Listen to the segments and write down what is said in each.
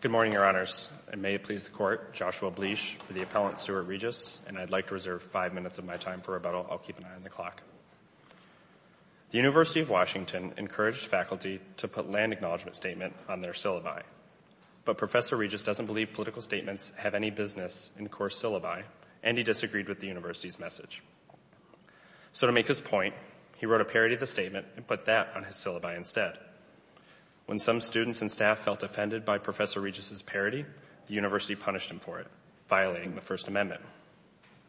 Good morning, Your Honors. It may please the Court, Joshua Bleich for the appellant, Stuart Regis, and I'd like to reserve five minutes of my time for rebuttal. I'll keep an eye on the clock. The University of Washington encouraged faculty to put land acknowledgment statement on their syllabi, but Professor Regis doesn't believe political statements have any business in course syllabi, and he disagreed with the university's message. So to make his point, he wrote a parody of the statement and put that on his syllabi instead. When some students and staff felt offended by Professor Regis' parody, the university punished him for it, violating the First Amendment.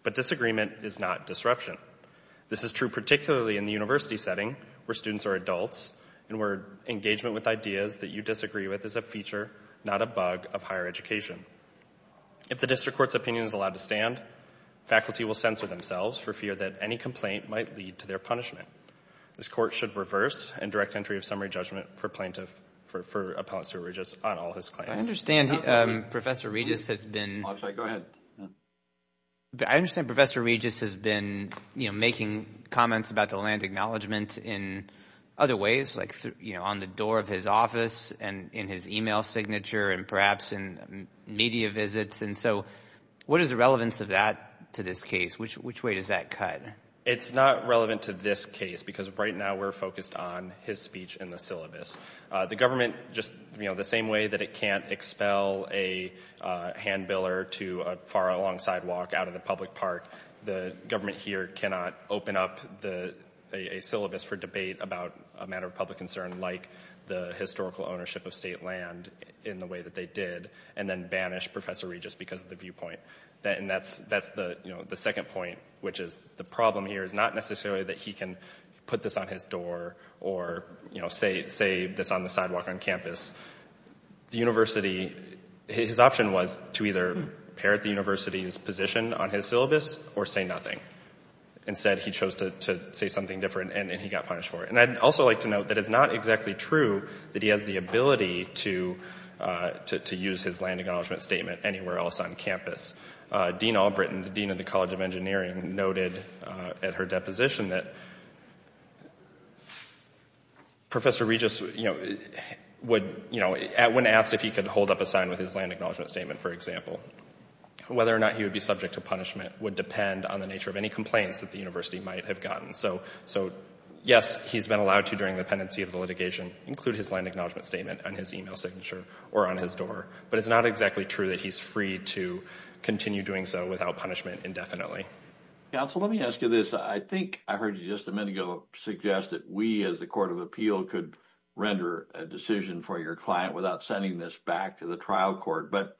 But disagreement is not disruption. This is true particularly in the university setting, where students are adults and where engagement with ideas that you disagree with is a feature, not a bug, of higher education. If the district court's opinion is allowed to stand, faculty will censor themselves for fear that any complaint might lead to their punishment. This court should reverse and direct entry of summary judgment for plaintiff, for Appellant Stuart Regis, on all his claims. I understand Professor Regis has been, I understand Professor Regis has been, you know, making comments about the land acknowledgment in other ways, like, you know, on the door of his office and in his email signature and perhaps in media visits. And so what is the relevance of that to this case? Which way does that cut? It's not relevant to this case because right now we're focused on his speech in the syllabus. The government just, you know, the same way that it can't expel a handbiller to a far along sidewalk out of the public park, the government here cannot open up the, a syllabus for debate about a matter of public concern like the historical ownership of state land in the way that they did and then banish Professor Regis because of the viewpoint. And that's, that's the, you know, the second point, which is the problem here is not necessarily that he can put this on his door or, you know, say, say this on the sidewalk on campus. The university, his option was to either parrot the university's position on his syllabus or say nothing. Instead, he chose to say something different and he got punished for it. And I'd also like to note that it's not exactly true that he has the ability to, to use his land acknowledgment statement anywhere else on campus. Dean Albritton, the dean of the College of Engineering, noted at her deposition that Professor Regis, you know, would, you know, when asked if he could hold up a sign with his land acknowledgment statement, for example, whether or not he would be subject to punishment would depend on the nature of any complaints that the university might have gotten. So, yes, he's been allowed to, during the pendency of the litigation, include his land acknowledgment statement on his email signature or on his door. But it's not exactly true that he's free to continue doing so without punishment indefinitely. Counsel, let me ask you this. I think I heard you just a minute ago suggest that we, as the Court of Appeal, could render a decision for your client without sending this back to the trial court. But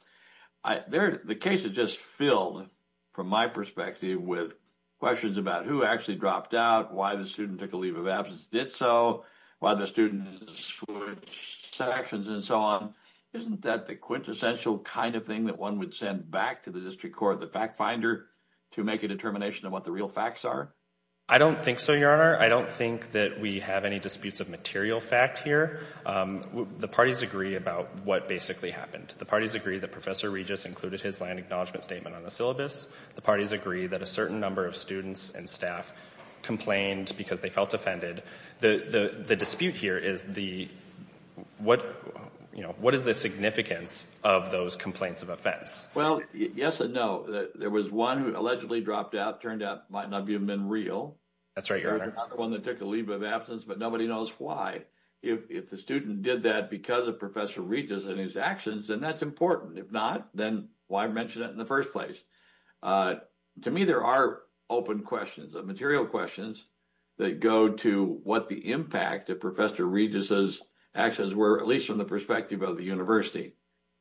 the case is just filled, from my perspective, with questions about who actually dropped out, why the student took a leave of absence and did so, why the student switched sections and so on. Isn't that the quintessential kind of thing that one would send back to the district court, the fact finder, to make a determination of what the real facts are? I don't think so, Your Honor. I don't think that we have any disputes of material fact here. The parties agree about what basically happened. The parties agree that Professor Regis included his land acknowledgment statement on the syllabus. The parties agree that a certain number of students and staff complained because they felt offended. The dispute here is what is the significance of those complaints of offense? Well, yes and no. There was one who allegedly dropped out, turned out might not have even been real. That's right, Your Honor. Another one that took a leave of absence, but nobody knows why. If the student did that because of Professor Regis and his actions, then that's important. If not, then why mention it in the first place? To me, there are open questions, material questions that go to what the impact of Professor Regis' actions were, at least from the perspective of the university.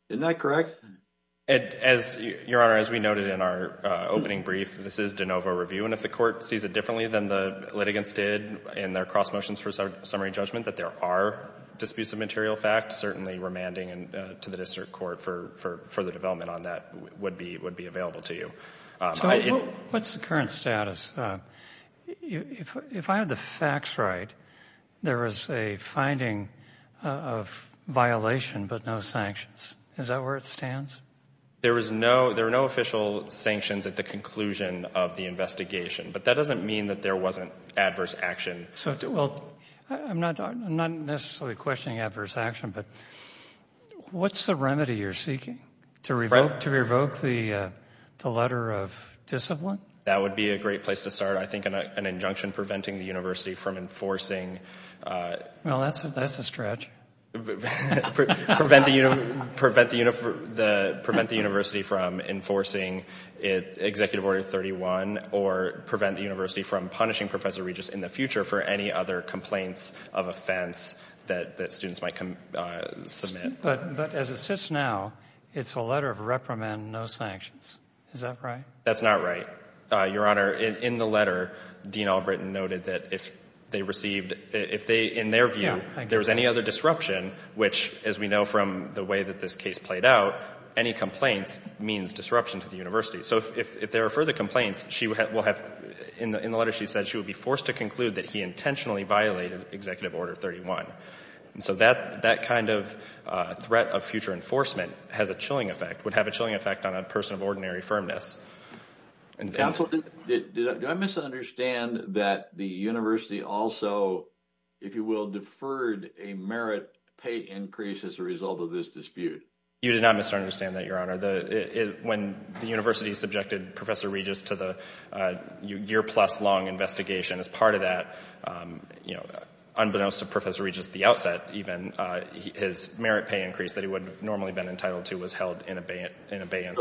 Isn't that correct? As Your Honor, as we noted in our opening brief, this is de novo review, and if the court sees it differently than the litigants did in their cross motions for summary judgment that there are disputes of material fact, certainly remanding to the district court for further development on that would be available to you. What's the current status? If I have the facts right, there is a finding of violation, but no sanctions. Is that where it stands? There are no official sanctions at the conclusion of the investigation, but that doesn't mean that there wasn't adverse action. I'm not necessarily questioning adverse action, but what's the remedy you're seeking? To revoke the letter of discipline? That would be a great place to start. I think an injunction preventing the university from enforcing. Well, that's a stretch. Prevent the university from enforcing Executive Order 31 or prevent the university from punishing Professor Regis in the future for any other complaints of offense that students might submit. But as it sits now, it's a letter of reprimand, no sanctions. Is that right? That's not right. Your Honor, in the letter, Dean Albritton noted that if they received, in their view, there was any other disruption, which as we know from the way that this case played out, any complaints means disruption to the university. So if there are further complaints, in the letter she said she would be forced to conclude that he intentionally violated Executive Order 31. So that kind of threat of future enforcement would have a chilling effect on a person of ordinary firmness. Counsel, do I misunderstand that the university also, if you will, deferred a merit pay increase as a result of this dispute? You did not misunderstand that, Your Honor. When the university subjected Professor Regis to the year-plus long investigation as part of that, unbeknownst to Professor Regis at the outset even, his merit pay increase that he would normally have been entitled to was held in abeyance.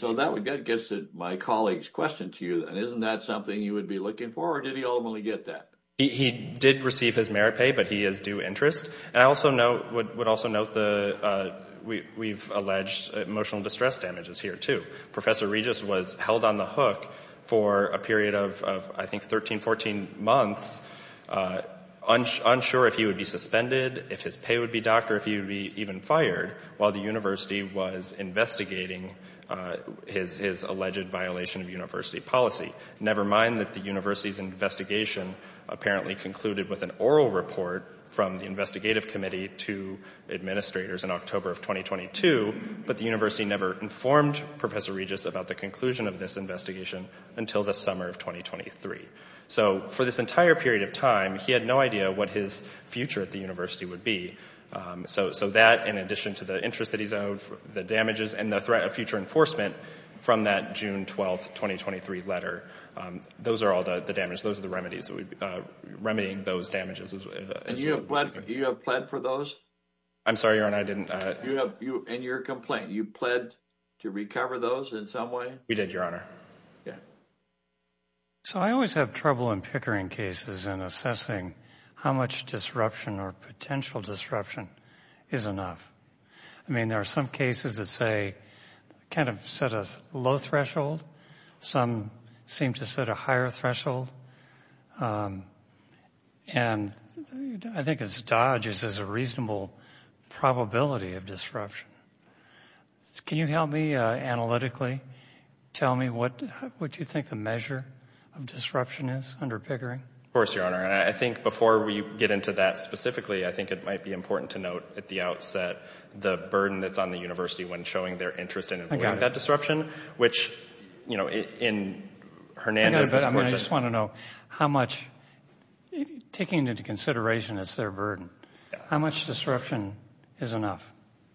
So that gets to my colleague's question to you, and isn't that something you would be looking for, or did he ultimately get that? He did receive his merit pay, but he is due interest. And I also note, would also note the, we've alleged emotional distress damages here, too. Professor Regis was held on the hook for a period of, I think, 13, 14 months, unsure if he would be suspended, if his pay would be docked, or if he would be even fired while the university was investigating his alleged violation of university policy. Never mind that the university's investigation apparently concluded with an oral report from the investigative committee to administrators in October of 2022, but the university never informed Professor Regis about the conclusion of this investigation until the summer of 2023. So for this entire period of time, he had no idea what his future at the university would be. So that, in addition to the interest that he's owed, the damages, and the threat of future enforcement from that June 12th, 2023 letter, those are all the damages, those are the remedies that we, remedying those damages. And you have, you have pled for those? I'm sorry, Your Honor, I didn't. You have, you, in your complaint, you pled to recover those in some way? We did, Your Honor. Yeah. So I always have trouble in pickering cases and assessing how much disruption or potential disruption is enough. I mean, there are some cases that say, kind of set a low threshold. Some seem to set a higher threshold. And I think it's Dodge's, there's a reasonable probability of disruption. Can you help me analytically? Tell me what, what you think the measure of disruption is under pickering? Of course, Your Honor. And I think before we get into that specifically, I think it might be important to note at the outset, the burden that's on the university when showing their interest in that disruption, which, you know, in Hernando's, I mean, I just want to know what, what, what, what how much, taking into consideration it's their burden, how much disruption is enough?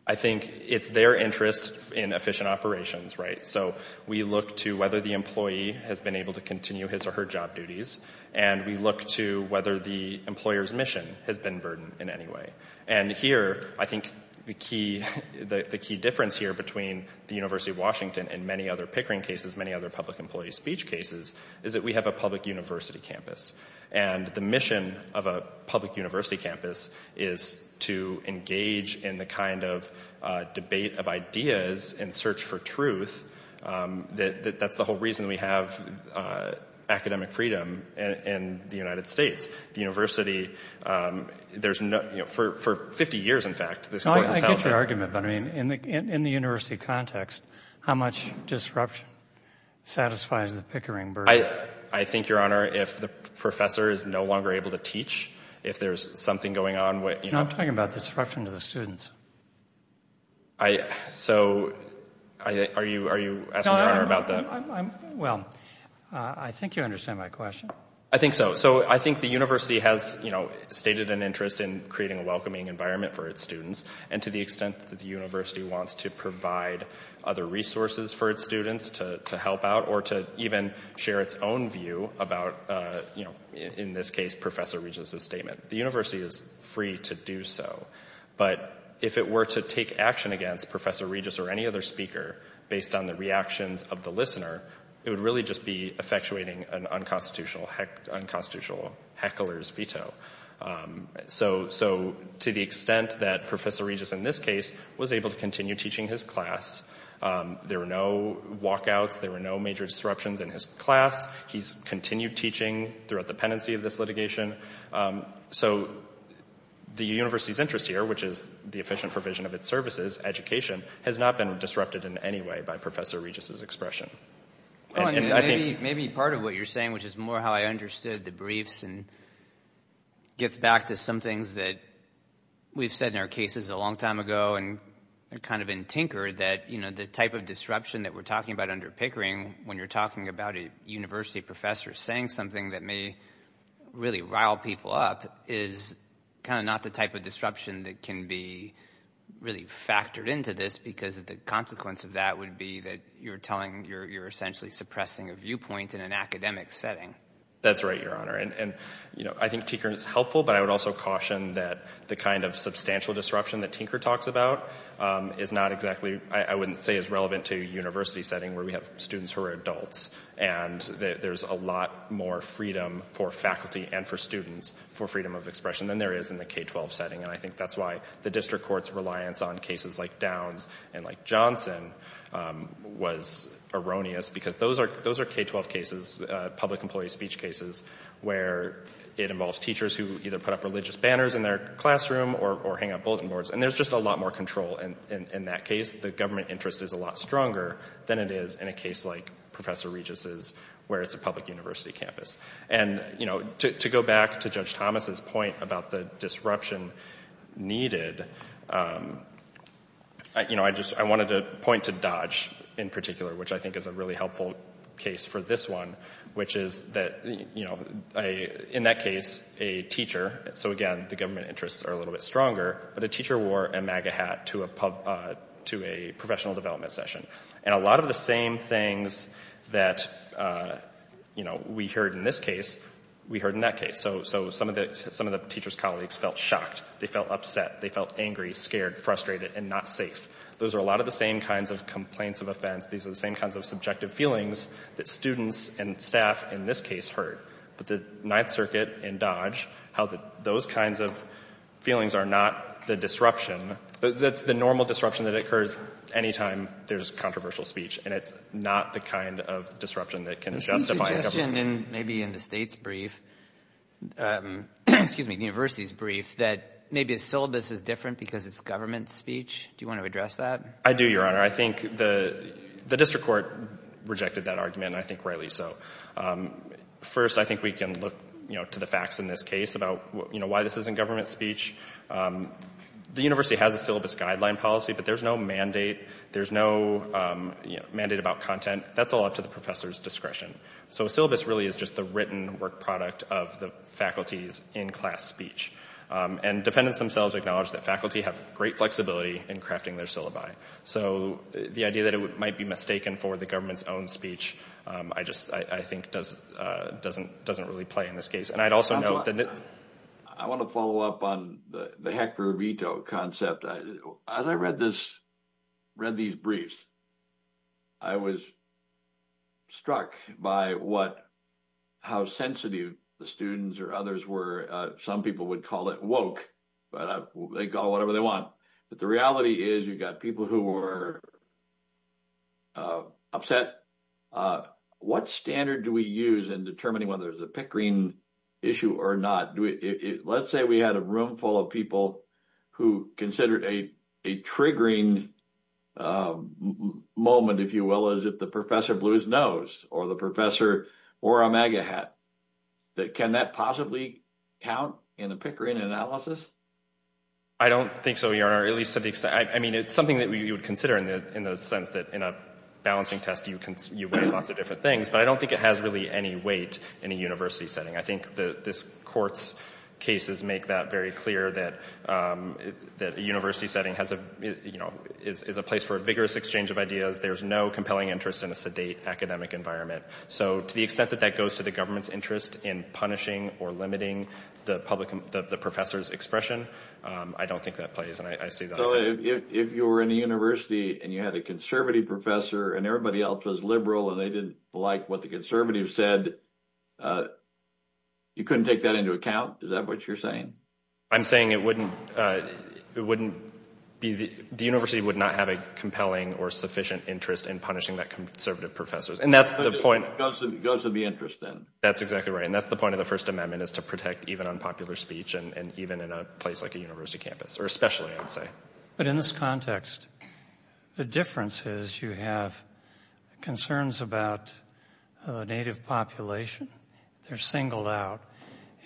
I think it's their interest in efficient operations, right? So we look to whether the employee has been able to continue his or her job duties. And we look to whether the employer's mission has been burdened in any way. And here, I think the key, the key difference here between the University of Washington and many other pickering cases, many other public employee speech cases, is that we have a public university campus. And the mission of a public university campus is to engage in the kind of debate of ideas and search for truth. That that's the whole reason we have academic freedom in the United States. The university, there's no, you know, for, for 50 years, in fact. I get your argument. But I mean, in the, in the university context, how much disruption satisfies the pickering burden? I think, Your Honor, if the professor is no longer able to teach, if there's something going on, what, you know. I'm talking about the disruption to the students. I, so, are you, are you asking the Honor about that? Well, I think you understand my question. I think so. So I think the university has, you know, stated an interest in creating a welcoming environment for its students. And to the extent that the university wants to provide other resources for its students to help out or to even share its own view about, you know, in this case, Professor Regis' statement, the university is free to do so. But if it were to take action against Professor Regis or any other speaker based on the reactions of the listener, it would really just be effectuating an unconstitutional, unconstitutional heckler's veto. So, so to the extent that Professor Regis, in this case, was able to continue teaching his class, there were no walkouts. There were no major disruptions in his class. He's continued teaching throughout the pendency of this litigation. So the university's interest here, which is the efficient provision of its services, education, has not been disrupted in any way by Professor Regis' expression. Maybe part of what you're saying, which is more how I understood the briefs and gets back to some things that we've said in our cases a long time ago and kind of in Tinker, that, you know, the type of disruption that we're talking about under Pickering, when you're talking about a university professor saying something that may really rile people up is kind of not the type of disruption that can be really factored into this because the consequence of that would be that you're telling, you're essentially suppressing a viewpoint in an academic setting. That's right, Your Honor. And, you know, I think Tinker is helpful, but I would also caution that the kind of substantial disruption that Tinker talks about is not exactly, I wouldn't say is relevant to a university setting where we have students who are adults. And there's a lot more freedom for faculty and for students for freedom of expression than there is in the K-12 setting. And I think that's why the district court's reliance on cases like Downs and like Johnson was erroneous because those are K-12 cases, public employee speech cases, where it involves teachers who either put up religious banners in their classroom or hang up bulletin boards. And there's just a lot more control in that case. The government interest is a lot stronger than it is in a case like Professor Regis's where it's a public university campus. And, you know, to go back to Judge Thomas's point about the disruption needed, you know, I wanted to point to Dodge in particular, which I think is a really helpful case for this one, which is that, you know, in that case, a teacher, so again, the government interests are a little bit stronger, but a teacher wore a MAGA hat to a professional development session. And a lot of the same things that, you know, we heard in this case, we heard in that case. So some of the teacher's colleagues felt shocked. They felt upset. They felt angry, scared, frustrated, and not safe. Those are a lot of the same kinds of complaints of offense. These are the same kinds of subjective feelings that students and staff, in this case, heard. But the Ninth Circuit in Dodge, how those kinds of feelings are not the disruption. That's the normal disruption that occurs anytime there's controversial speech. And it's not the kind of disruption that can justify. There's a suggestion, maybe in the state's brief, excuse me, the university's brief, that maybe the syllabus is different because it's government speech. Do you want to address that? I do, Your Honor. I think the district court rejected that argument, and I think rightly so. First, I think we can look, you know, to the facts in this case about, you know, why this isn't government speech. The university has a syllabus guideline policy, but there's no mandate. There's no, you know, mandate about content. That's all up to the professor's discretion. So a syllabus really is just the written work product of the faculty's in-class speech. And dependents themselves acknowledge that faculty have great flexibility in crafting their syllabi. So the idea that it might be mistaken for the government's own speech, I just, I think, doesn't really play in this case. And I'd also note that... I want to follow up on the Hector Uvito concept. As I read these briefs, I was struck by what, how sensitive the students or others were. Some people would call it woke, but they call it whatever they want. But the reality is you've got people who were upset. What standard do we use in determining whether there's a Pickering issue or not? Let's say we had a room full of people who considered a triggering moment, if you will, as if the professor blew his nose or the professor wore a MAGA hat. Can that possibly count in a Pickering analysis? I don't think so, Your Honor. At least to the extent... I mean, it's something that you would consider in the sense that in a balancing test, you weigh lots of different things. But I don't think it has really any weight in a university setting. I think this court's cases make that very clear that a university setting has a... is a place for a vigorous exchange of ideas. There's no compelling interest in a sedate academic environment. So to the extent that that goes to the government's interest in punishing or limiting the professor's expression, I don't think that plays. And I see that... So if you were in a university and you had a conservative professor and everybody else was liberal and they didn't like what the conservatives said, you couldn't take that into account? Is that what you're saying? I'm saying it wouldn't be... the university would not have a compelling or sufficient interest in punishing that conservative professors. And that's the point... It goes to the interest then. That's exactly right. And that's the point of the First Amendment is to protect even unpopular speech and even in a place like a university campus or especially, I would say. But in this context, the difference is you have concerns about the native population. They're singled out.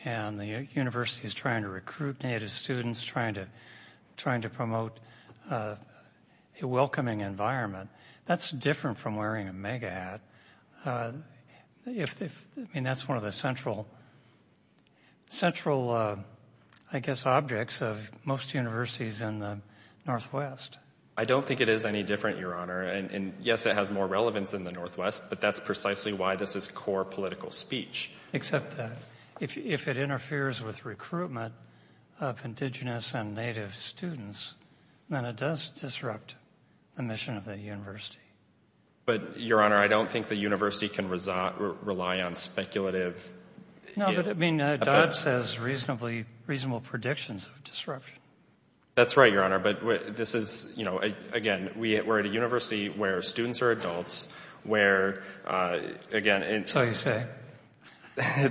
And the university is trying to recruit native students, trying to promote a welcoming environment. That's different from wearing a mega hat. That's one of the central, I guess, objects of most universities in the Northwest. I don't think it is any different, Your Honor. And yes, it has more relevance in the Northwest, but that's precisely why this is core political speech. Except that if it interferes with recruitment of indigenous and native students, then it does disrupt the mission of the university. But, Your Honor, I don't think the university can rely on speculative... No, but I mean, Dodd says reasonable predictions of disruption. That's right, Your Honor. But this is, you know, again, we're at a university where students are adults, where, again... So you say.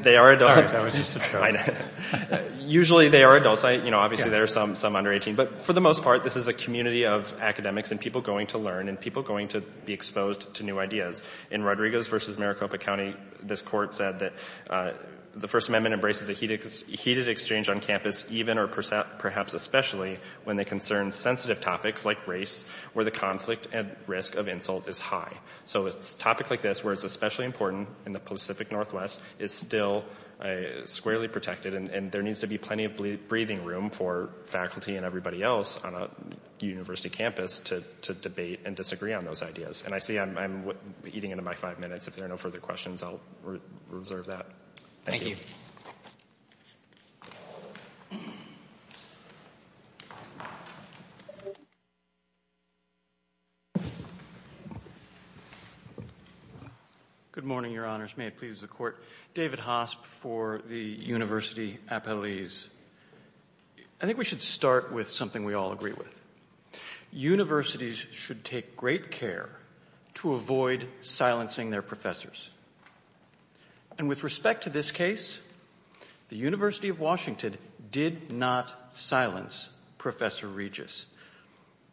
They are adults. I was just about to say that. Usually they are adults. Obviously there are some under 18. But for the most part, this is a community of academics and people going to learn and people going to be exposed to new ideas. In Rodriguez v. Maricopa County, this court said that the First Amendment embraces a heated exchange on campus, even or perhaps especially when they concern sensitive topics like race, where the conflict and risk of insult is high. So a topic like this, where it's especially important in the Pacific Northwest, is still squarely protected. And there needs to be plenty of breathing room for faculty and everybody else on a university campus to debate and disagree on those ideas. And I see I'm eating into my five minutes. If there are no further questions, I'll reserve that. Thank you. Good morning, Your Honors. May it please the Court. David Hosp for the University Appellees. I think we should start with something we all agree with. Universities should take great care to avoid silencing their professors. And with respect to this case, the University of Washington did not silence Professor Regis.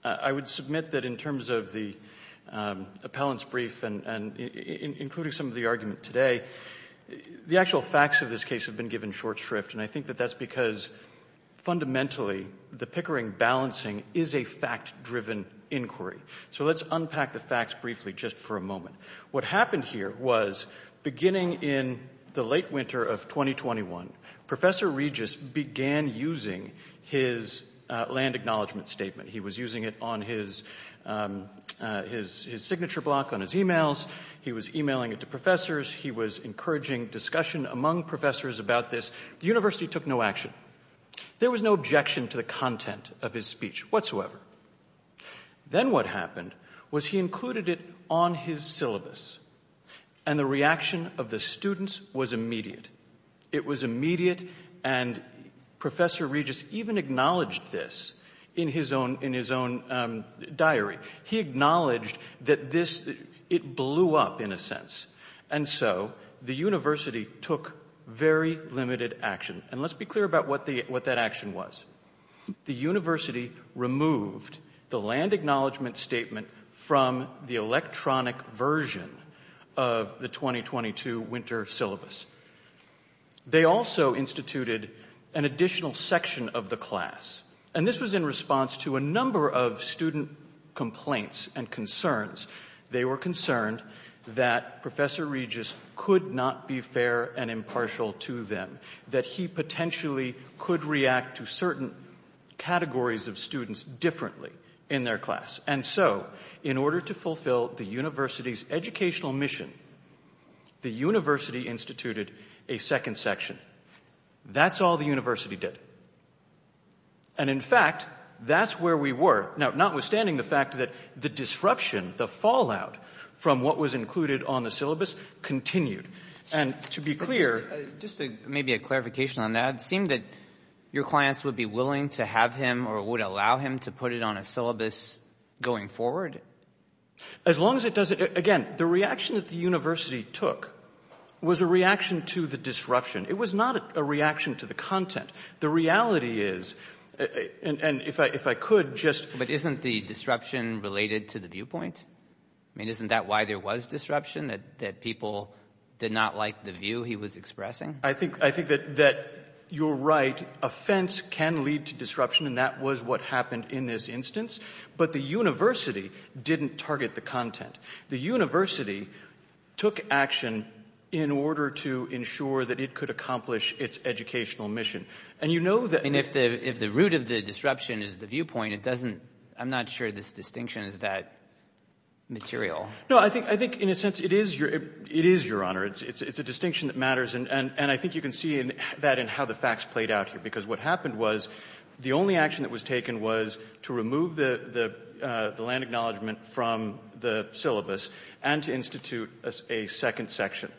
I would submit that in terms of the appellant's brief and including some of the argument today, the actual facts of this case have been given short shrift. And I think that that's because, fundamentally, the Pickering balancing is a fact-driven inquiry. So let's unpack the facts briefly just for a moment. What happened here was, beginning in the late winter of 2021, Professor Regis began using his land acknowledgment statement. He was using it on his signature block, on his emails. He was emailing it to professors. He was encouraging discussion among professors about this. The university took no action. There was no objection to the content of his speech whatsoever. Then what happened was he included it on his syllabus. And the reaction of the students was immediate. It was immediate. And Professor Regis even acknowledged this in his own diary. He acknowledged that it blew up, in a sense. And so the university took very limited action. And let's be clear about what that action was. The university removed the land acknowledgment statement from the electronic version of the 2022 winter syllabus. They also instituted an additional section of the class. And this was in response to a number of student complaints and concerns. They were concerned that Professor Regis could not be fair and impartial to them. That he potentially could react to certain categories of students differently in their class. And so, in order to fulfill the university's educational mission, the university instituted a second section. That's all the university did. And in fact, that's where we were. Now, notwithstanding the fact that the disruption, the fallout from what was included on the syllabus continued. And to be clear... But just maybe a clarification on that. It seemed that your clients would be willing to have him or would allow him to put it on a syllabus going forward? As long as it doesn't... Again, the reaction that the university took was a reaction to the disruption. It was not a reaction to the content. The reality is... And if I could just... But isn't the disruption related to the viewpoint? I mean, isn't that why there was disruption? That people did not like the view he was expressing? I think that you're right. Offense can lead to disruption. And that was what happened in this instance. But the university didn't target the content. The university took action in order to ensure that it could accomplish its educational mission. And you know that... And if the root of the disruption is the viewpoint, it doesn't... I'm not sure this distinction is that material. No, I think, in a sense, it is, Your Honor. It's a distinction that matters. And I think you can see that in how the facts played out here. Because what happened was the only action that was taken was to remove the land acknowledgement from the syllabus and to institute a second section.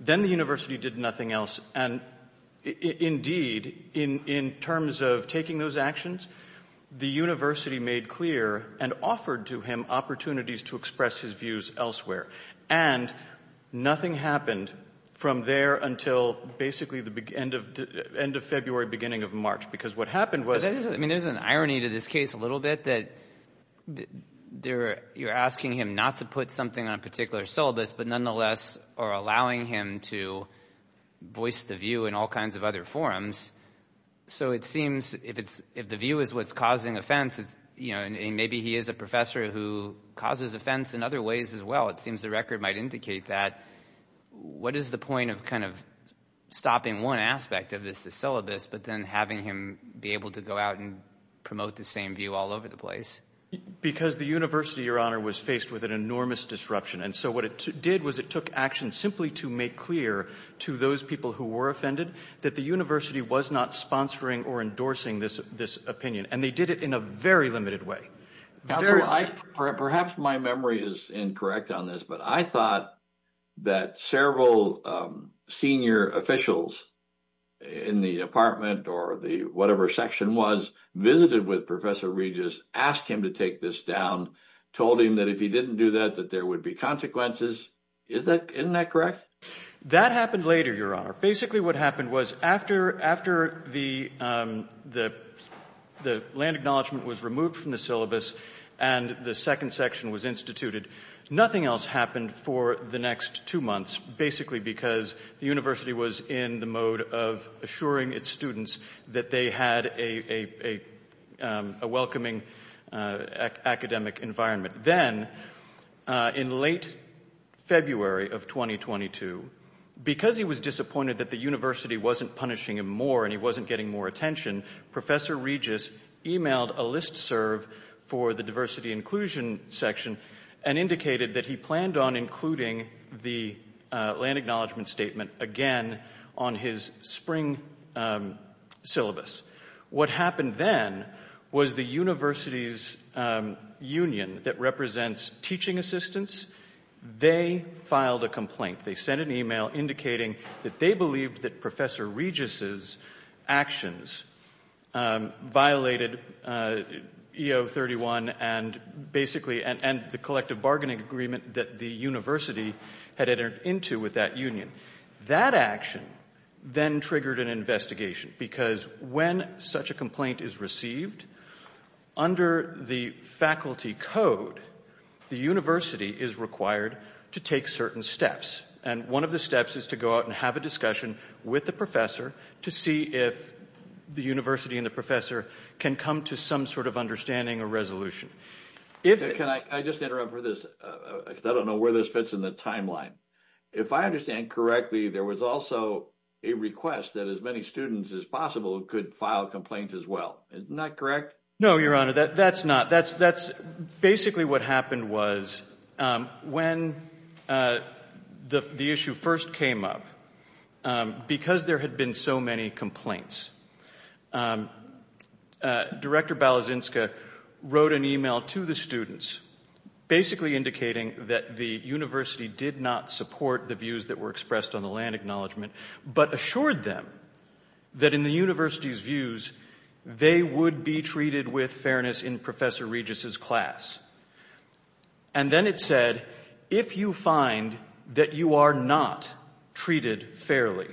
Then the university did nothing else. And indeed, in terms of taking those actions, the university made clear and offered to him opportunities to express his views elsewhere. And nothing happened from there until basically the end of February, beginning of March. Because what happened was... I mean, there's an irony to this case a little bit, that you're asking him not to put something on a particular syllabus, but nonetheless are allowing him to voice the view in all kinds of other forums. So it seems if the view is what's causing offense, maybe he is a professor who causes offense in other ways as well. It seems the record might indicate that. What is the point of kind of stopping one aspect of this, but then having him be able to go out and promote the same view all over the place? Because the university, Your Honor, was faced with an enormous disruption. And so what it did was it took action simply to make clear to those people who were offended that the university was not sponsoring or endorsing this opinion. And they did it in a very limited way. Perhaps my memory is incorrect on this, but I thought that several senior officials in the department or the whatever section was visited with Professor Regis, asked him to take this down, told him that if he didn't do that, that there would be consequences. Isn't that correct? That happened later, Your Honor. Basically what happened was after the land acknowledgement was removed from the syllabus and the second section was instituted, nothing else happened for the next two months. Basically because the university was in the mode of assuring its students that they had a welcoming academic environment. Then in late February of 2022, because he was disappointed that the university wasn't punishing him more and he wasn't getting more attention, Professor Regis emailed a listserv for the diversity inclusion section and indicated that he planned on including the land acknowledgement statement again on his spring syllabus. What happened then was the university's union that represents teaching assistants, they filed a complaint. They sent an email indicating that they believed that Professor Regis's actions violated EO 31 and the collective bargaining agreement that the university had entered into with that union. That action then triggered an investigation because when such a complaint is received, under the faculty code, the university is required to take certain steps. And one of the steps is to go out and have a discussion with the professor to see if the university and the professor can come to some sort of understanding or resolution. Can I just interrupt for this? I don't know where this fits in the timeline. If I understand correctly, there was also a request that as many students as possible could file complaints as well. Isn't that correct? No, your honor, that's not. Basically what happened was when the issue first came up, because there had been so many complaints, Director Balazinska wrote an email to the students basically indicating that the university did not support the views that were expressed on the land acknowledgement, but assured them that in the university's views, they would be treated with fairness in Professor Regis's class. And then it said, if you find that you are not treated fairly,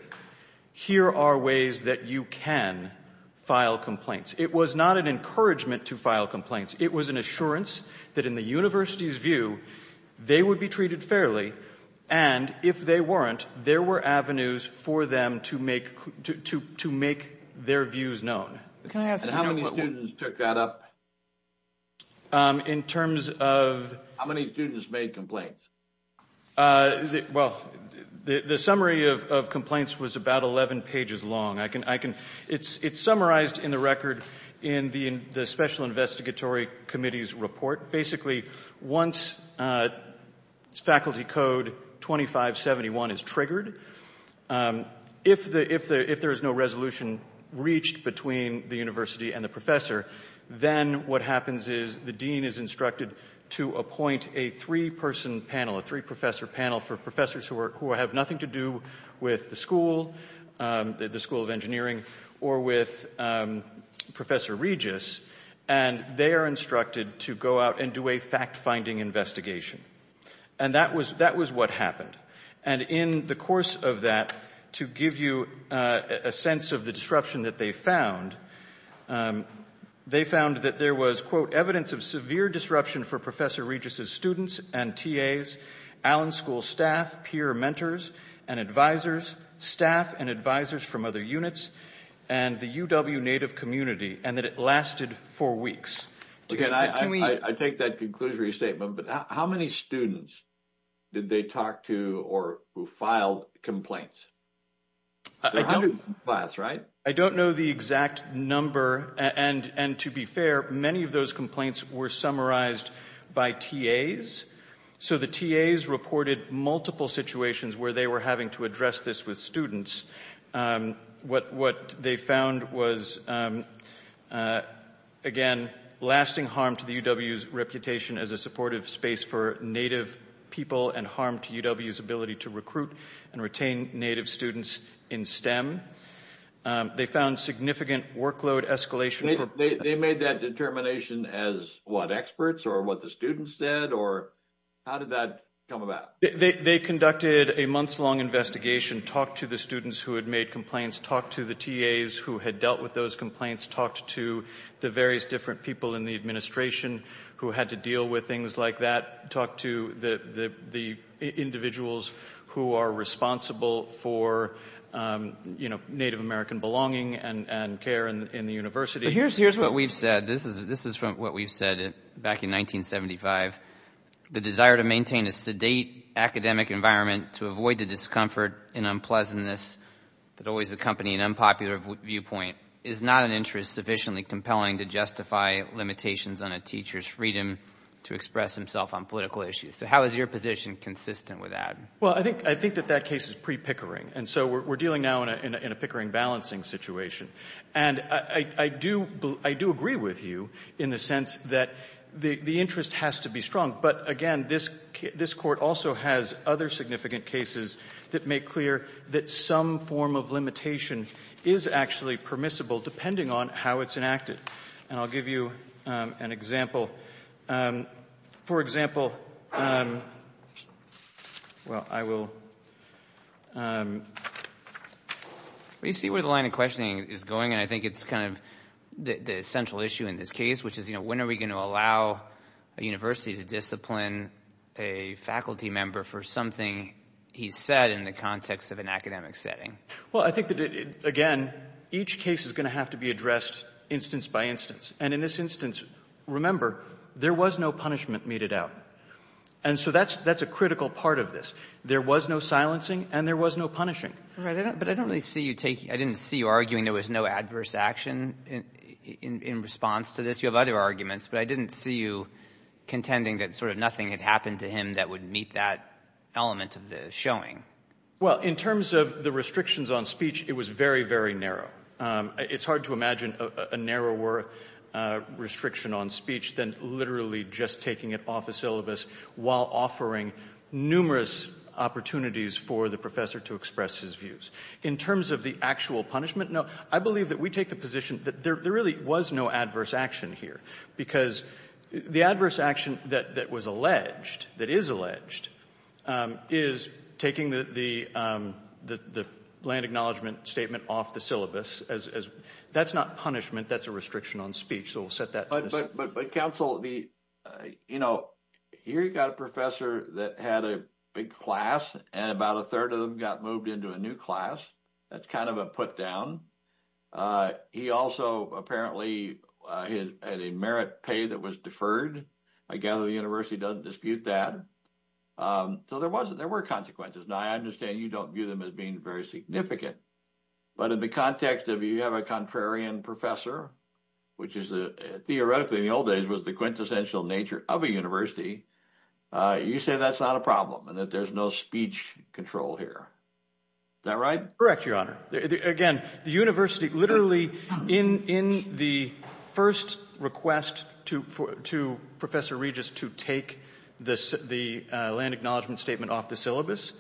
here are ways that you can file complaints. It was not an encouragement to file complaints. It was an assurance that in the university's view, they would be treated fairly. And if they weren't, there were avenues for them to make their views known. And how many students took that up? In terms of... How many students made complaints? Well, the summary of complaints was about 11 pages long. It's summarized in the record in the Special Investigatory Committee's report. Basically, once faculty code 2571 is triggered, if there is no resolution reached between the university and the professor, then what happens is the dean is instructed to appoint a three-person panel, a three-professor panel for professors who have nothing to do with the school, the School of Engineering, or with Professor Regis. And they are instructed to go out and do a fact-finding investigation. And that was what happened. And in the course of that, to give you a sense of the disruption that they found, they found that there was, quote, evidence of severe disruption for Professor Regis's students and TAs, Allen School staff, peer mentors and advisors, staff and advisors from other units, and the UW Native community, and that it lasted four weeks. Again, I take that conclusory statement, but how many students did they talk to or who filed complaints? There are hundreds of files, right? I don't know the exact number. And to be fair, many of those complaints were summarized by TAs. So the TAs reported multiple situations where they were having to address this with students. What they found was, again, lasting harm to the UW's reputation as a supportive space for Native people and harm to UW's ability to recruit and retain Native students in STEM. They found significant workload escalation. They made that determination as what, experts or what the students said, or how did that come about? They conducted a months-long investigation, talked to the students who had made complaints, talked to the TAs who had dealt with those complaints, talked to the various different people in the administration who had to deal with things like that, talked to the individuals who are responsible for Native American belonging and care in the university. But here's what we've said. This is from what we've said back in 1975. The desire to maintain a sedate academic environment to avoid the discomfort and unpleasantness that always accompany an unpopular viewpoint is not an interest sufficiently compelling to justify limitations on a teacher's freedom to express himself on political issues. So how is your position consistent with that? Well, I think that that case is pre-Pickering. And so we're dealing now in a Pickering balancing situation. And I do agree with you in the sense that the interest has to be strong. But again, this court also has other significant cases that make clear that some form of limitation is actually permissible depending on how it's enacted. And I'll give you an example. For example, well, I will... Well, you see where the line of questioning is going. And I think it's kind of the central issue in this case, which is when are we going to allow a university to discipline a faculty member for something he said in the context of an academic setting? Well, I think that, again, each case is going to have to be addressed instance by instance. And in this instance, remember, there was no punishment meted out. And so that's a critical part of this. There was no silencing and there was no punishing. But I don't really see you taking... I didn't see you arguing there was no adverse action in response to this. You have other arguments, but I didn't see you contending that sort of nothing had happened to him that would meet that element of the showing. Well, in terms of the restrictions on speech, it was very, very narrow. It's hard to imagine a narrower restriction on speech than literally just taking it off a syllabus while offering numerous opportunities for the professor to express his views. In terms of the actual punishment, no, I believe that we take the position that there really was no adverse action here because the adverse action that was alleged, that is alleged, is taking the land acknowledgement statement off the syllabus. That's not punishment. That's a restriction on speech. So we'll set that to this. But counsel, here you got a professor that had a big class and about a third of them got moved into a new class. That's kind of a put down. He also apparently had a merit pay that was deferred. I gather the university doesn't dispute that. So there were consequences. Now, I understand you don't view them as being very significant, but in the context of you have a contrarian professor, which theoretically in the old days was the quintessential nature of a university, you say that's not a problem and that there's no speech control here. Is that right? Correct, your honor. Again, the university, literally in the first request to Professor Regis to take the land acknowledgement statement off the syllabus,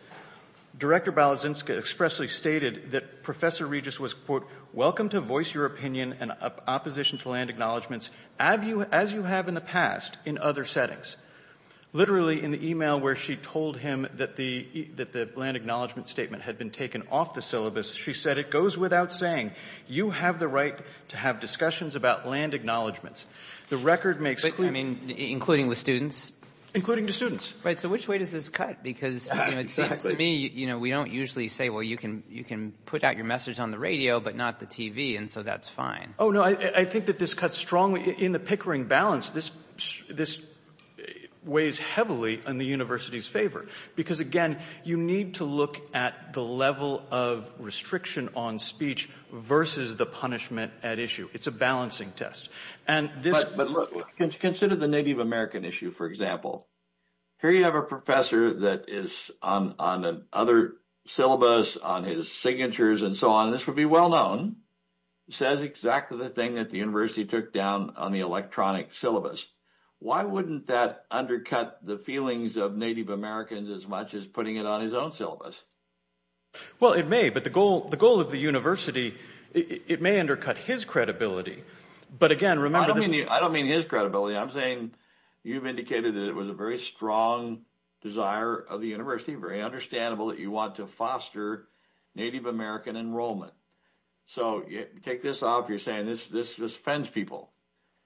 Director Balazinska expressly stated that Professor Regis was, quote, welcome to voice your opinion and opposition to land acknowledgements as you have in the past in other settings. Literally in the email where she told him that the land acknowledgement statement had been taken off the syllabus, she said it goes without saying, you have the right to have discussions about land acknowledgements. The record makes clear. I mean, including with students? Including the students. Right, so which way does this cut? Because it seems to me, we don't usually say, well, you can put out your message on the radio, but not the TV. And so that's fine. Oh, no, I think that this cuts strongly in the pickering balance. This weighs heavily on the university's favor. Because again, you need to look at the level of restriction on speech versus the punishment at issue. It's a balancing test. But consider the Native American issue, for example. Here you have a professor that is on the other syllabus, on his signatures and so on. This would be well known. Says exactly the thing that the university took down on the electronic syllabus. Why wouldn't that undercut the feelings of Native Americans as much as putting it on his own syllabus? Well, it may. But the goal of the university, it may undercut his credibility. But again, remember... I don't mean his credibility. I'm saying you've indicated that it was a very strong desire of the university, very understandable that you want to foster Native American enrollment. So take this off. You're saying this offends people.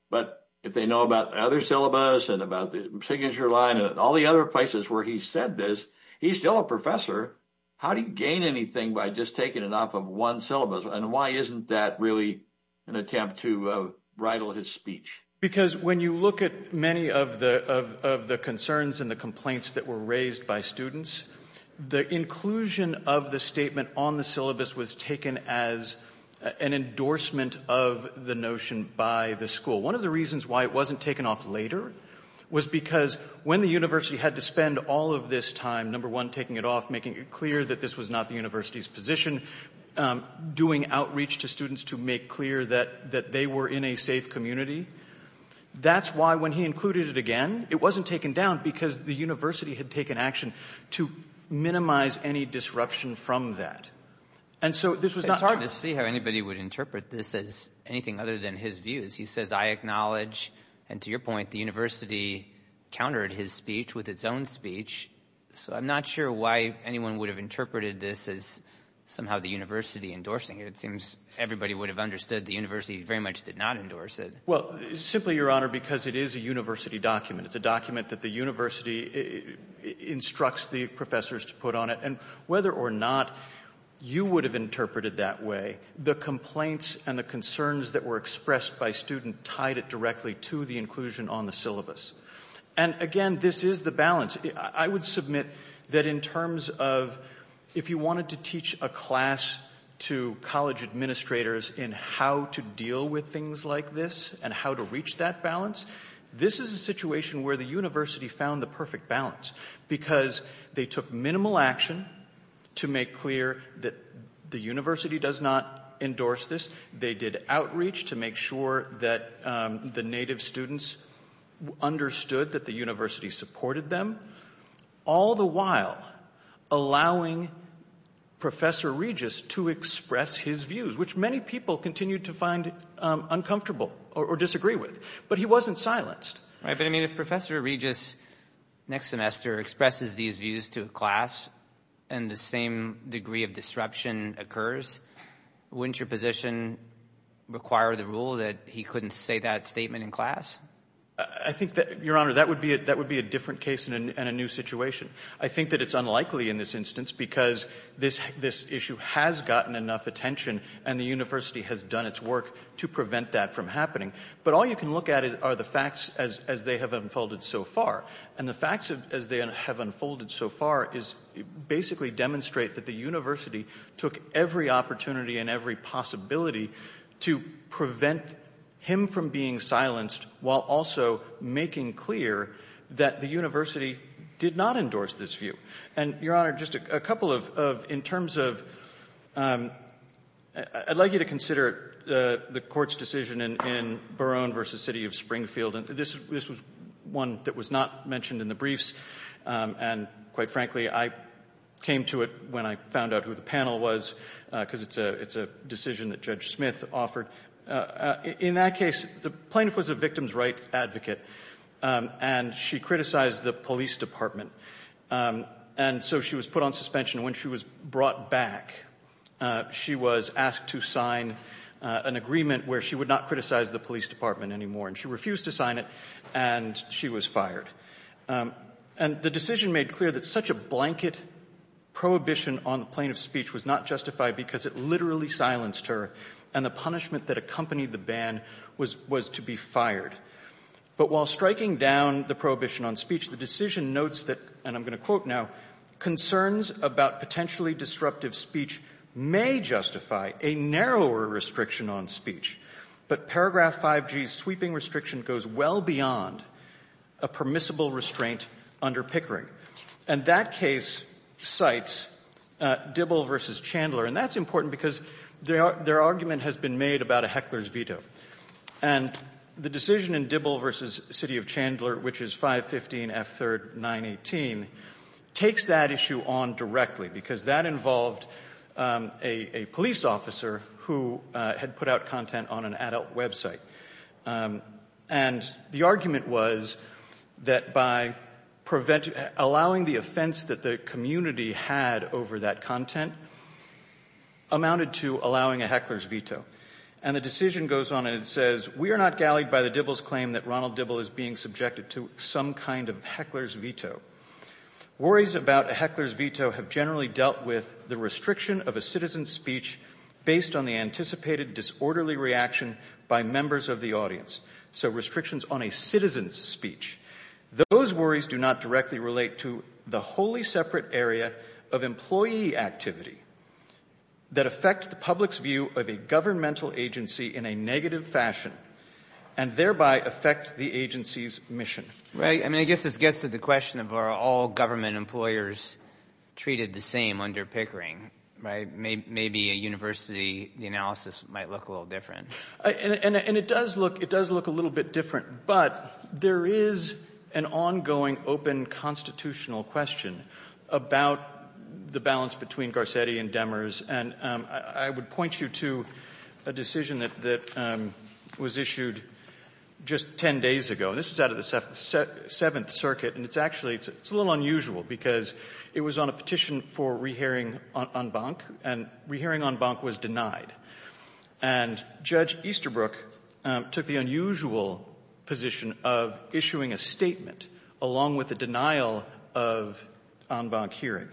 But if they know about other syllabus and about the signature line and all the other places where he said this, he's still a professor. How do you gain anything by just taking it off of one syllabus? And why isn't that really an attempt to riddle his speech? Because when you look at many of the concerns and the complaints that were raised by students, the inclusion of the statement on the syllabus was taken as an endorsement of the notion by the school. One of the reasons why it wasn't taken off later was because when the university had to spend all of this time, number one, taking it off, making it clear that this was not the university's position, doing outreach to students to make clear that that they were in a safe community. That's why when he included it again, it wasn't taken down because the university had taken action to minimize any disruption from that. And so this was not hard to see how anybody would interpret this as anything other than his views. He says, I acknowledge and to your point, the university countered his speech with its own speech. So I'm not sure why anyone would have interpreted this as somehow the university endorsing it. It seems everybody would have understood the university very much did not endorse it. Well, simply, Your Honor, because it is a university document. It's a document that the university instructs the professors to put on it. And whether or not you would have interpreted that way, the complaints and the concerns that were expressed by student tied it directly to the inclusion on the syllabus. And again, this is the balance. I would submit that in terms of if you wanted to teach a class to college administrators in how to deal with things like this and how to reach that balance, this is a situation where the university found the perfect balance because they took minimal action to make clear that the university does not endorse this. They did outreach to make sure that the native students understood that the university supported them. All the while allowing Professor Regis to express his views, which many people continue to find uncomfortable or disagree with. But he wasn't silenced. Right. But I mean, if Professor Regis next semester expresses these views to a class and the same degree of disruption occurs, wouldn't your position require the rule that he couldn't say that statement in class? I think that, Your Honor, that would be it. That would be a different case and a new situation. I think that it's unlikely in this instance because this issue has gotten enough attention and the university has done its work to prevent that from happening. But all you can look at are the facts as they have unfolded so far. And the facts as they have unfolded so far is basically demonstrate that the university took every opportunity and every possibility to prevent him from being silenced while also making clear that the university did not endorse this view. And, Your Honor, just a couple of in terms of I'd like you to consider the court's decision in Barone versus City of Springfield. And this was one that was not mentioned in the briefs. And quite frankly, I came to it when I found out who the panel was because it's a decision that Judge Smith offered. In that case, the plaintiff was a victim's rights advocate. And she criticized the police department. And so she was put on suspension. When she was brought back, she was asked to sign an agreement where she would not criticize the police department anymore. And she refused to sign it. And she was fired. And the decision made clear that such a blanket prohibition on the plaintiff's speech was not justified because it literally silenced her. And the punishment that accompanied the ban was to be fired. But while striking down the prohibition on speech, the decision notes that, and I'm going to quote now, concerns about potentially disruptive speech may justify a narrower restriction on speech. But paragraph 5G's sweeping restriction goes well beyond a permissible restraint under Pickering. And that case cites Dibble versus Chandler. And that's important because their argument has been made about a heckler's veto. And the decision in Dibble versus City of Chandler, which is 515 F3rd 918, takes that issue on directly because that involved a police officer who had put out content on an adult website. And the argument was that by allowing the offense that the community had over that content amounted to allowing a heckler's veto. And the decision goes on and it says, we are not gallied by the Dibble's claim that Ronald Dibble is being subjected to some kind of heckler's veto. Worries about a heckler's veto have generally dealt with the restriction of a citizen's speech based on the anticipated disorderly reaction by members of the audience. So restrictions on a citizen's speech. Those worries do not directly relate to the wholly separate area of employee activity that affect the public's view of a governmental agency in a negative fashion and thereby affect the agency's mission. Right. I mean, I guess this gets to the question of are all government employers treated the same under Pickering? Right. Maybe a university the analysis might look a little different. And it does look a little bit different, but there is an ongoing open constitutional question about the balance between Garcetti and Demers. And I would point you to a decision that was issued just 10 days ago. This is out of the Seventh Circuit. And it's actually it's a little unusual because it was on a petition for rehearing en banc and rehearing en banc was denied. And Judge Easterbrook took the unusual position of issuing a statement along with the denial of en banc hearing.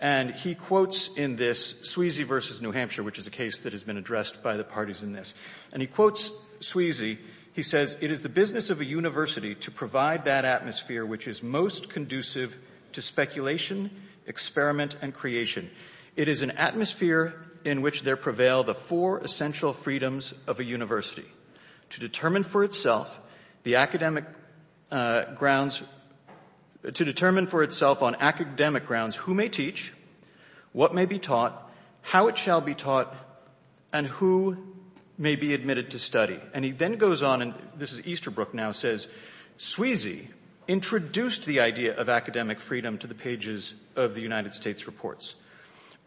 And he quotes in this Sweezy versus New Hampshire, which is a case that has been addressed by the parties in this. And he quotes Sweezy. He says, It is the business of a university to provide that atmosphere, which is most conducive to speculation, experiment and creation. It is an atmosphere in which there prevail the four essential freedoms of a university to determine for itself the academic grounds to determine for itself on academic grounds, who may teach, what may be taught, how it shall be taught and who may be admitted to study. And he then goes on and this is Easterbrook now says, Sweezy introduced the idea of academic freedom to the pages of the United States reports.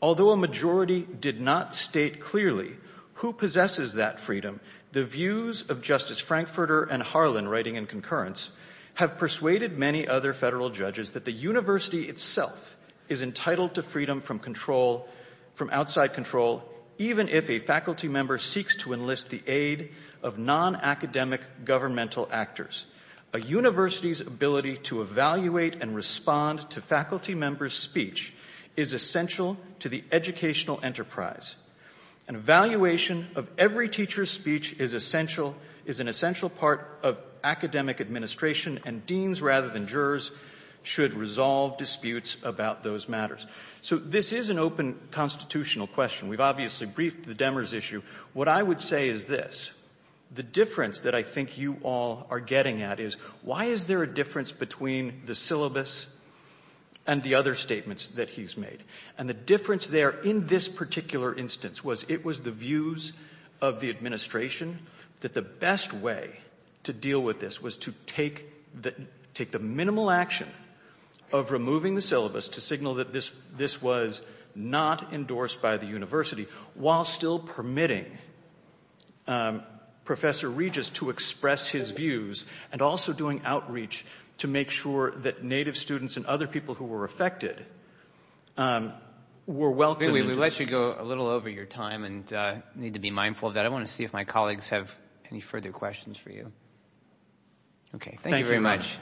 Although a majority did not state clearly who possesses that freedom, the views of Justice Frankfurter and Harlan writing in concurrence have persuaded many other federal judges that the university itself is entitled to freedom from control, from outside control, even if a faculty member seeks to enlist the aid of non-academic governmental actors. A university's ability to evaluate and respond to faculty members speech is essential to the educational enterprise. An evaluation of every teacher's speech is essential, is an essential part of academic administration and deans rather than jurors should resolve disputes about those matters. So this is an open constitutional question. We've obviously briefed the Demers issue. What I would say is this, the difference that I think you all are getting at is why is there a difference between the syllabus and the other statements that he's made? And the difference there in this particular instance was it was the views of the administration that the best way to deal with this was to take the minimal action of removing the syllabus to signal that this was not endorsed by the university while still permitting Professor Regis to express his views and also doing outreach to make sure that Native students and other people who were affected were welcomed. We let you go a little over your time and need to be mindful of that. I want to see if my colleagues have any further questions for you. Okay, thank you very much.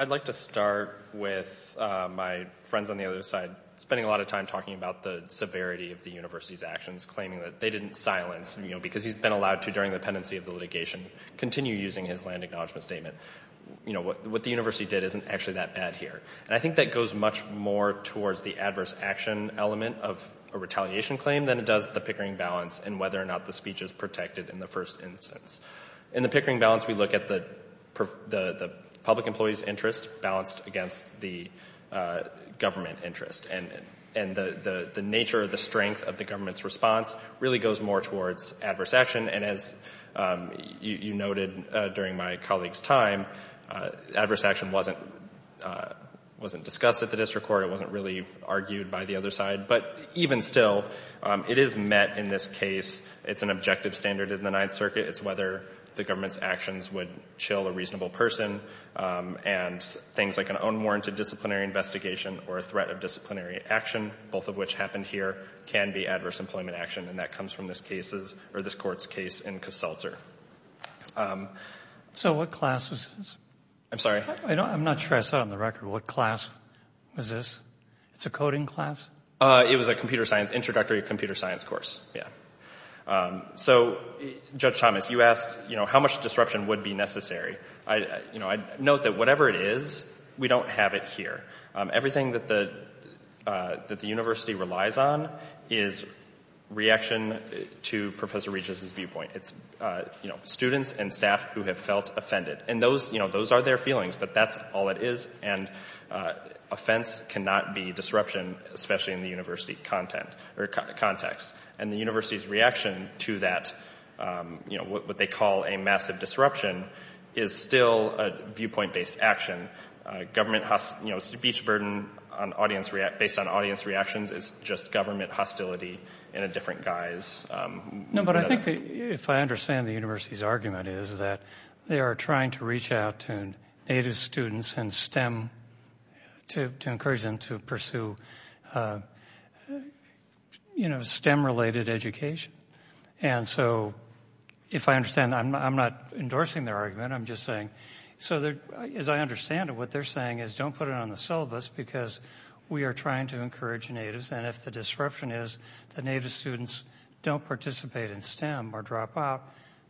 I'd like to start with my friends on the other side spending a lot of time talking about the severity of the university's actions, claiming that they didn't silence, because he's been allowed to during the pendency of the litigation, continue using his land acknowledgement statement. What the university did isn't actually that bad here. And I think that goes much more towards the adverse action element of a retaliation claim than it does the pickering balance and whether or not the speech is protected in the first instance. In the pickering balance, we look at the public employee's interest balanced against the government interest. And the nature of the strength of the government's response really goes more towards adverse action. And as you noted during my colleague's time, adverse action wasn't discussed at the district court. It wasn't really argued by the other side. But even still, it is met in this case. It's an objective standard in the Ninth Circuit. It's whether the government's actions would chill a reasonable person. And things like an unwarranted disciplinary investigation or a threat of disciplinary action, both of which happened here, can be adverse employment action. And that comes from this case or this court's case in Koselzer. So what class was this? I'm sorry? I'm not sure I saw it on the record. What class was this? It's a coding class? It was a computer science, introductory computer science course. Yeah. So, Judge Thomas, you asked, you know, how much disruption would be necessary. I, you know, I note that whatever it is, we don't have it here. Everything that the university relies on is reaction to Professor Regis's viewpoint. It's, you know, students and staff who have felt offended. And those, you know, those are their feelings, but that's all it is. And offense cannot be disruption, especially in the university content or context. And the university's reaction to that, you know, what they call a massive disruption is still a viewpoint-based action. Government, you know, speech burden on audience react, based on audience reactions is just government hostility in a different guise. No, but I think that if I understand the university's argument is that they are trying to reach out to native students and STEM to encourage them to pursue, you know, STEM-related education. And so if I understand, I'm not endorsing their argument. I'm just saying, so as I understand it, what they're saying is don't put it on the syllabus because we are trying to encourage natives. And if the disruption is the native students don't participate in STEM or drop out,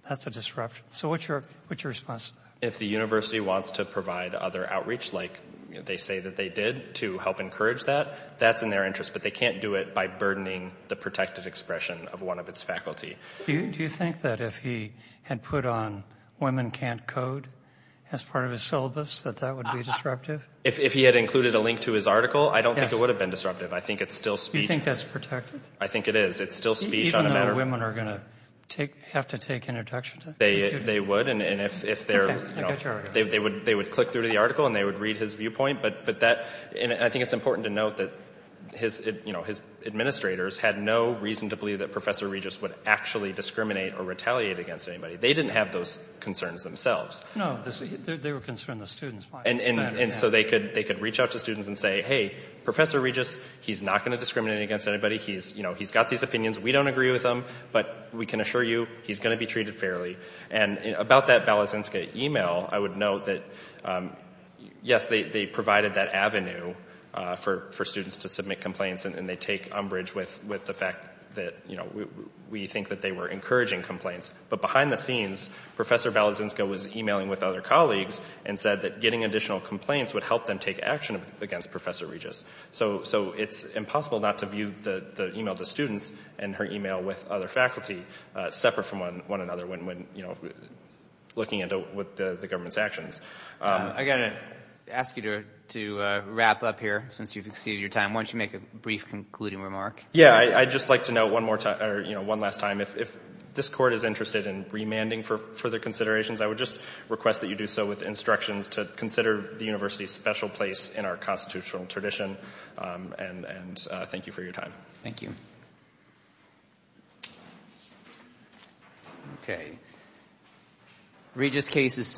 that's a disruption. So what's your response? If the university wants to provide other outreach, like they say that they did to help encourage that, that's in their interest, but they can't do it by burdening the protected expression of one of its faculty. Do you think that if he had put on women can't code as part of his syllabus, that that would be disruptive? If he had included a link to his article, I don't think it would have been disruptive. I think it's still speech. Do you think that's protected? I think it is. It's still speech. Even though women are going to take, have to take introduction. They would. And if they're, you know, they would click through to the article and they would read his viewpoint. But that, and I think it's important to note that his, you know, his administrators had no reason to believe that Professor Regis would actually discriminate or retaliate against anybody. They didn't have those concerns themselves. No, they were concerned the students. And so they could, they could reach out to students and say, hey, Professor Regis, he's not going to discriminate against anybody. He's, you know, he's got these opinions. We don't agree with them, but we can assure you he's going to be treated fairly. And about that Balazinska email, I would note that, yes, they provided that avenue for students to submit complaints. And they take umbrage with the fact that, you know, we think that they were encouraging complaints. But behind the scenes, Professor Balazinska was emailing with other colleagues and said that getting additional complaints would help them take action against Professor Regis. So it's impossible not to view the email of the students and her email with other faculty separate from one another when, you know, looking into what the government's actions. I'm going to ask you to wrap up here since you've exceeded your time. Why don't you make a brief concluding remark? Yeah, I'd just like to know one more time, or, you know, one last time. If this court is interested in remanding for further considerations, I would just request that you do so with instructions to consider the university a special place in our constitutional tradition. And thank you for your time. Thank you. Okay. Regis cases.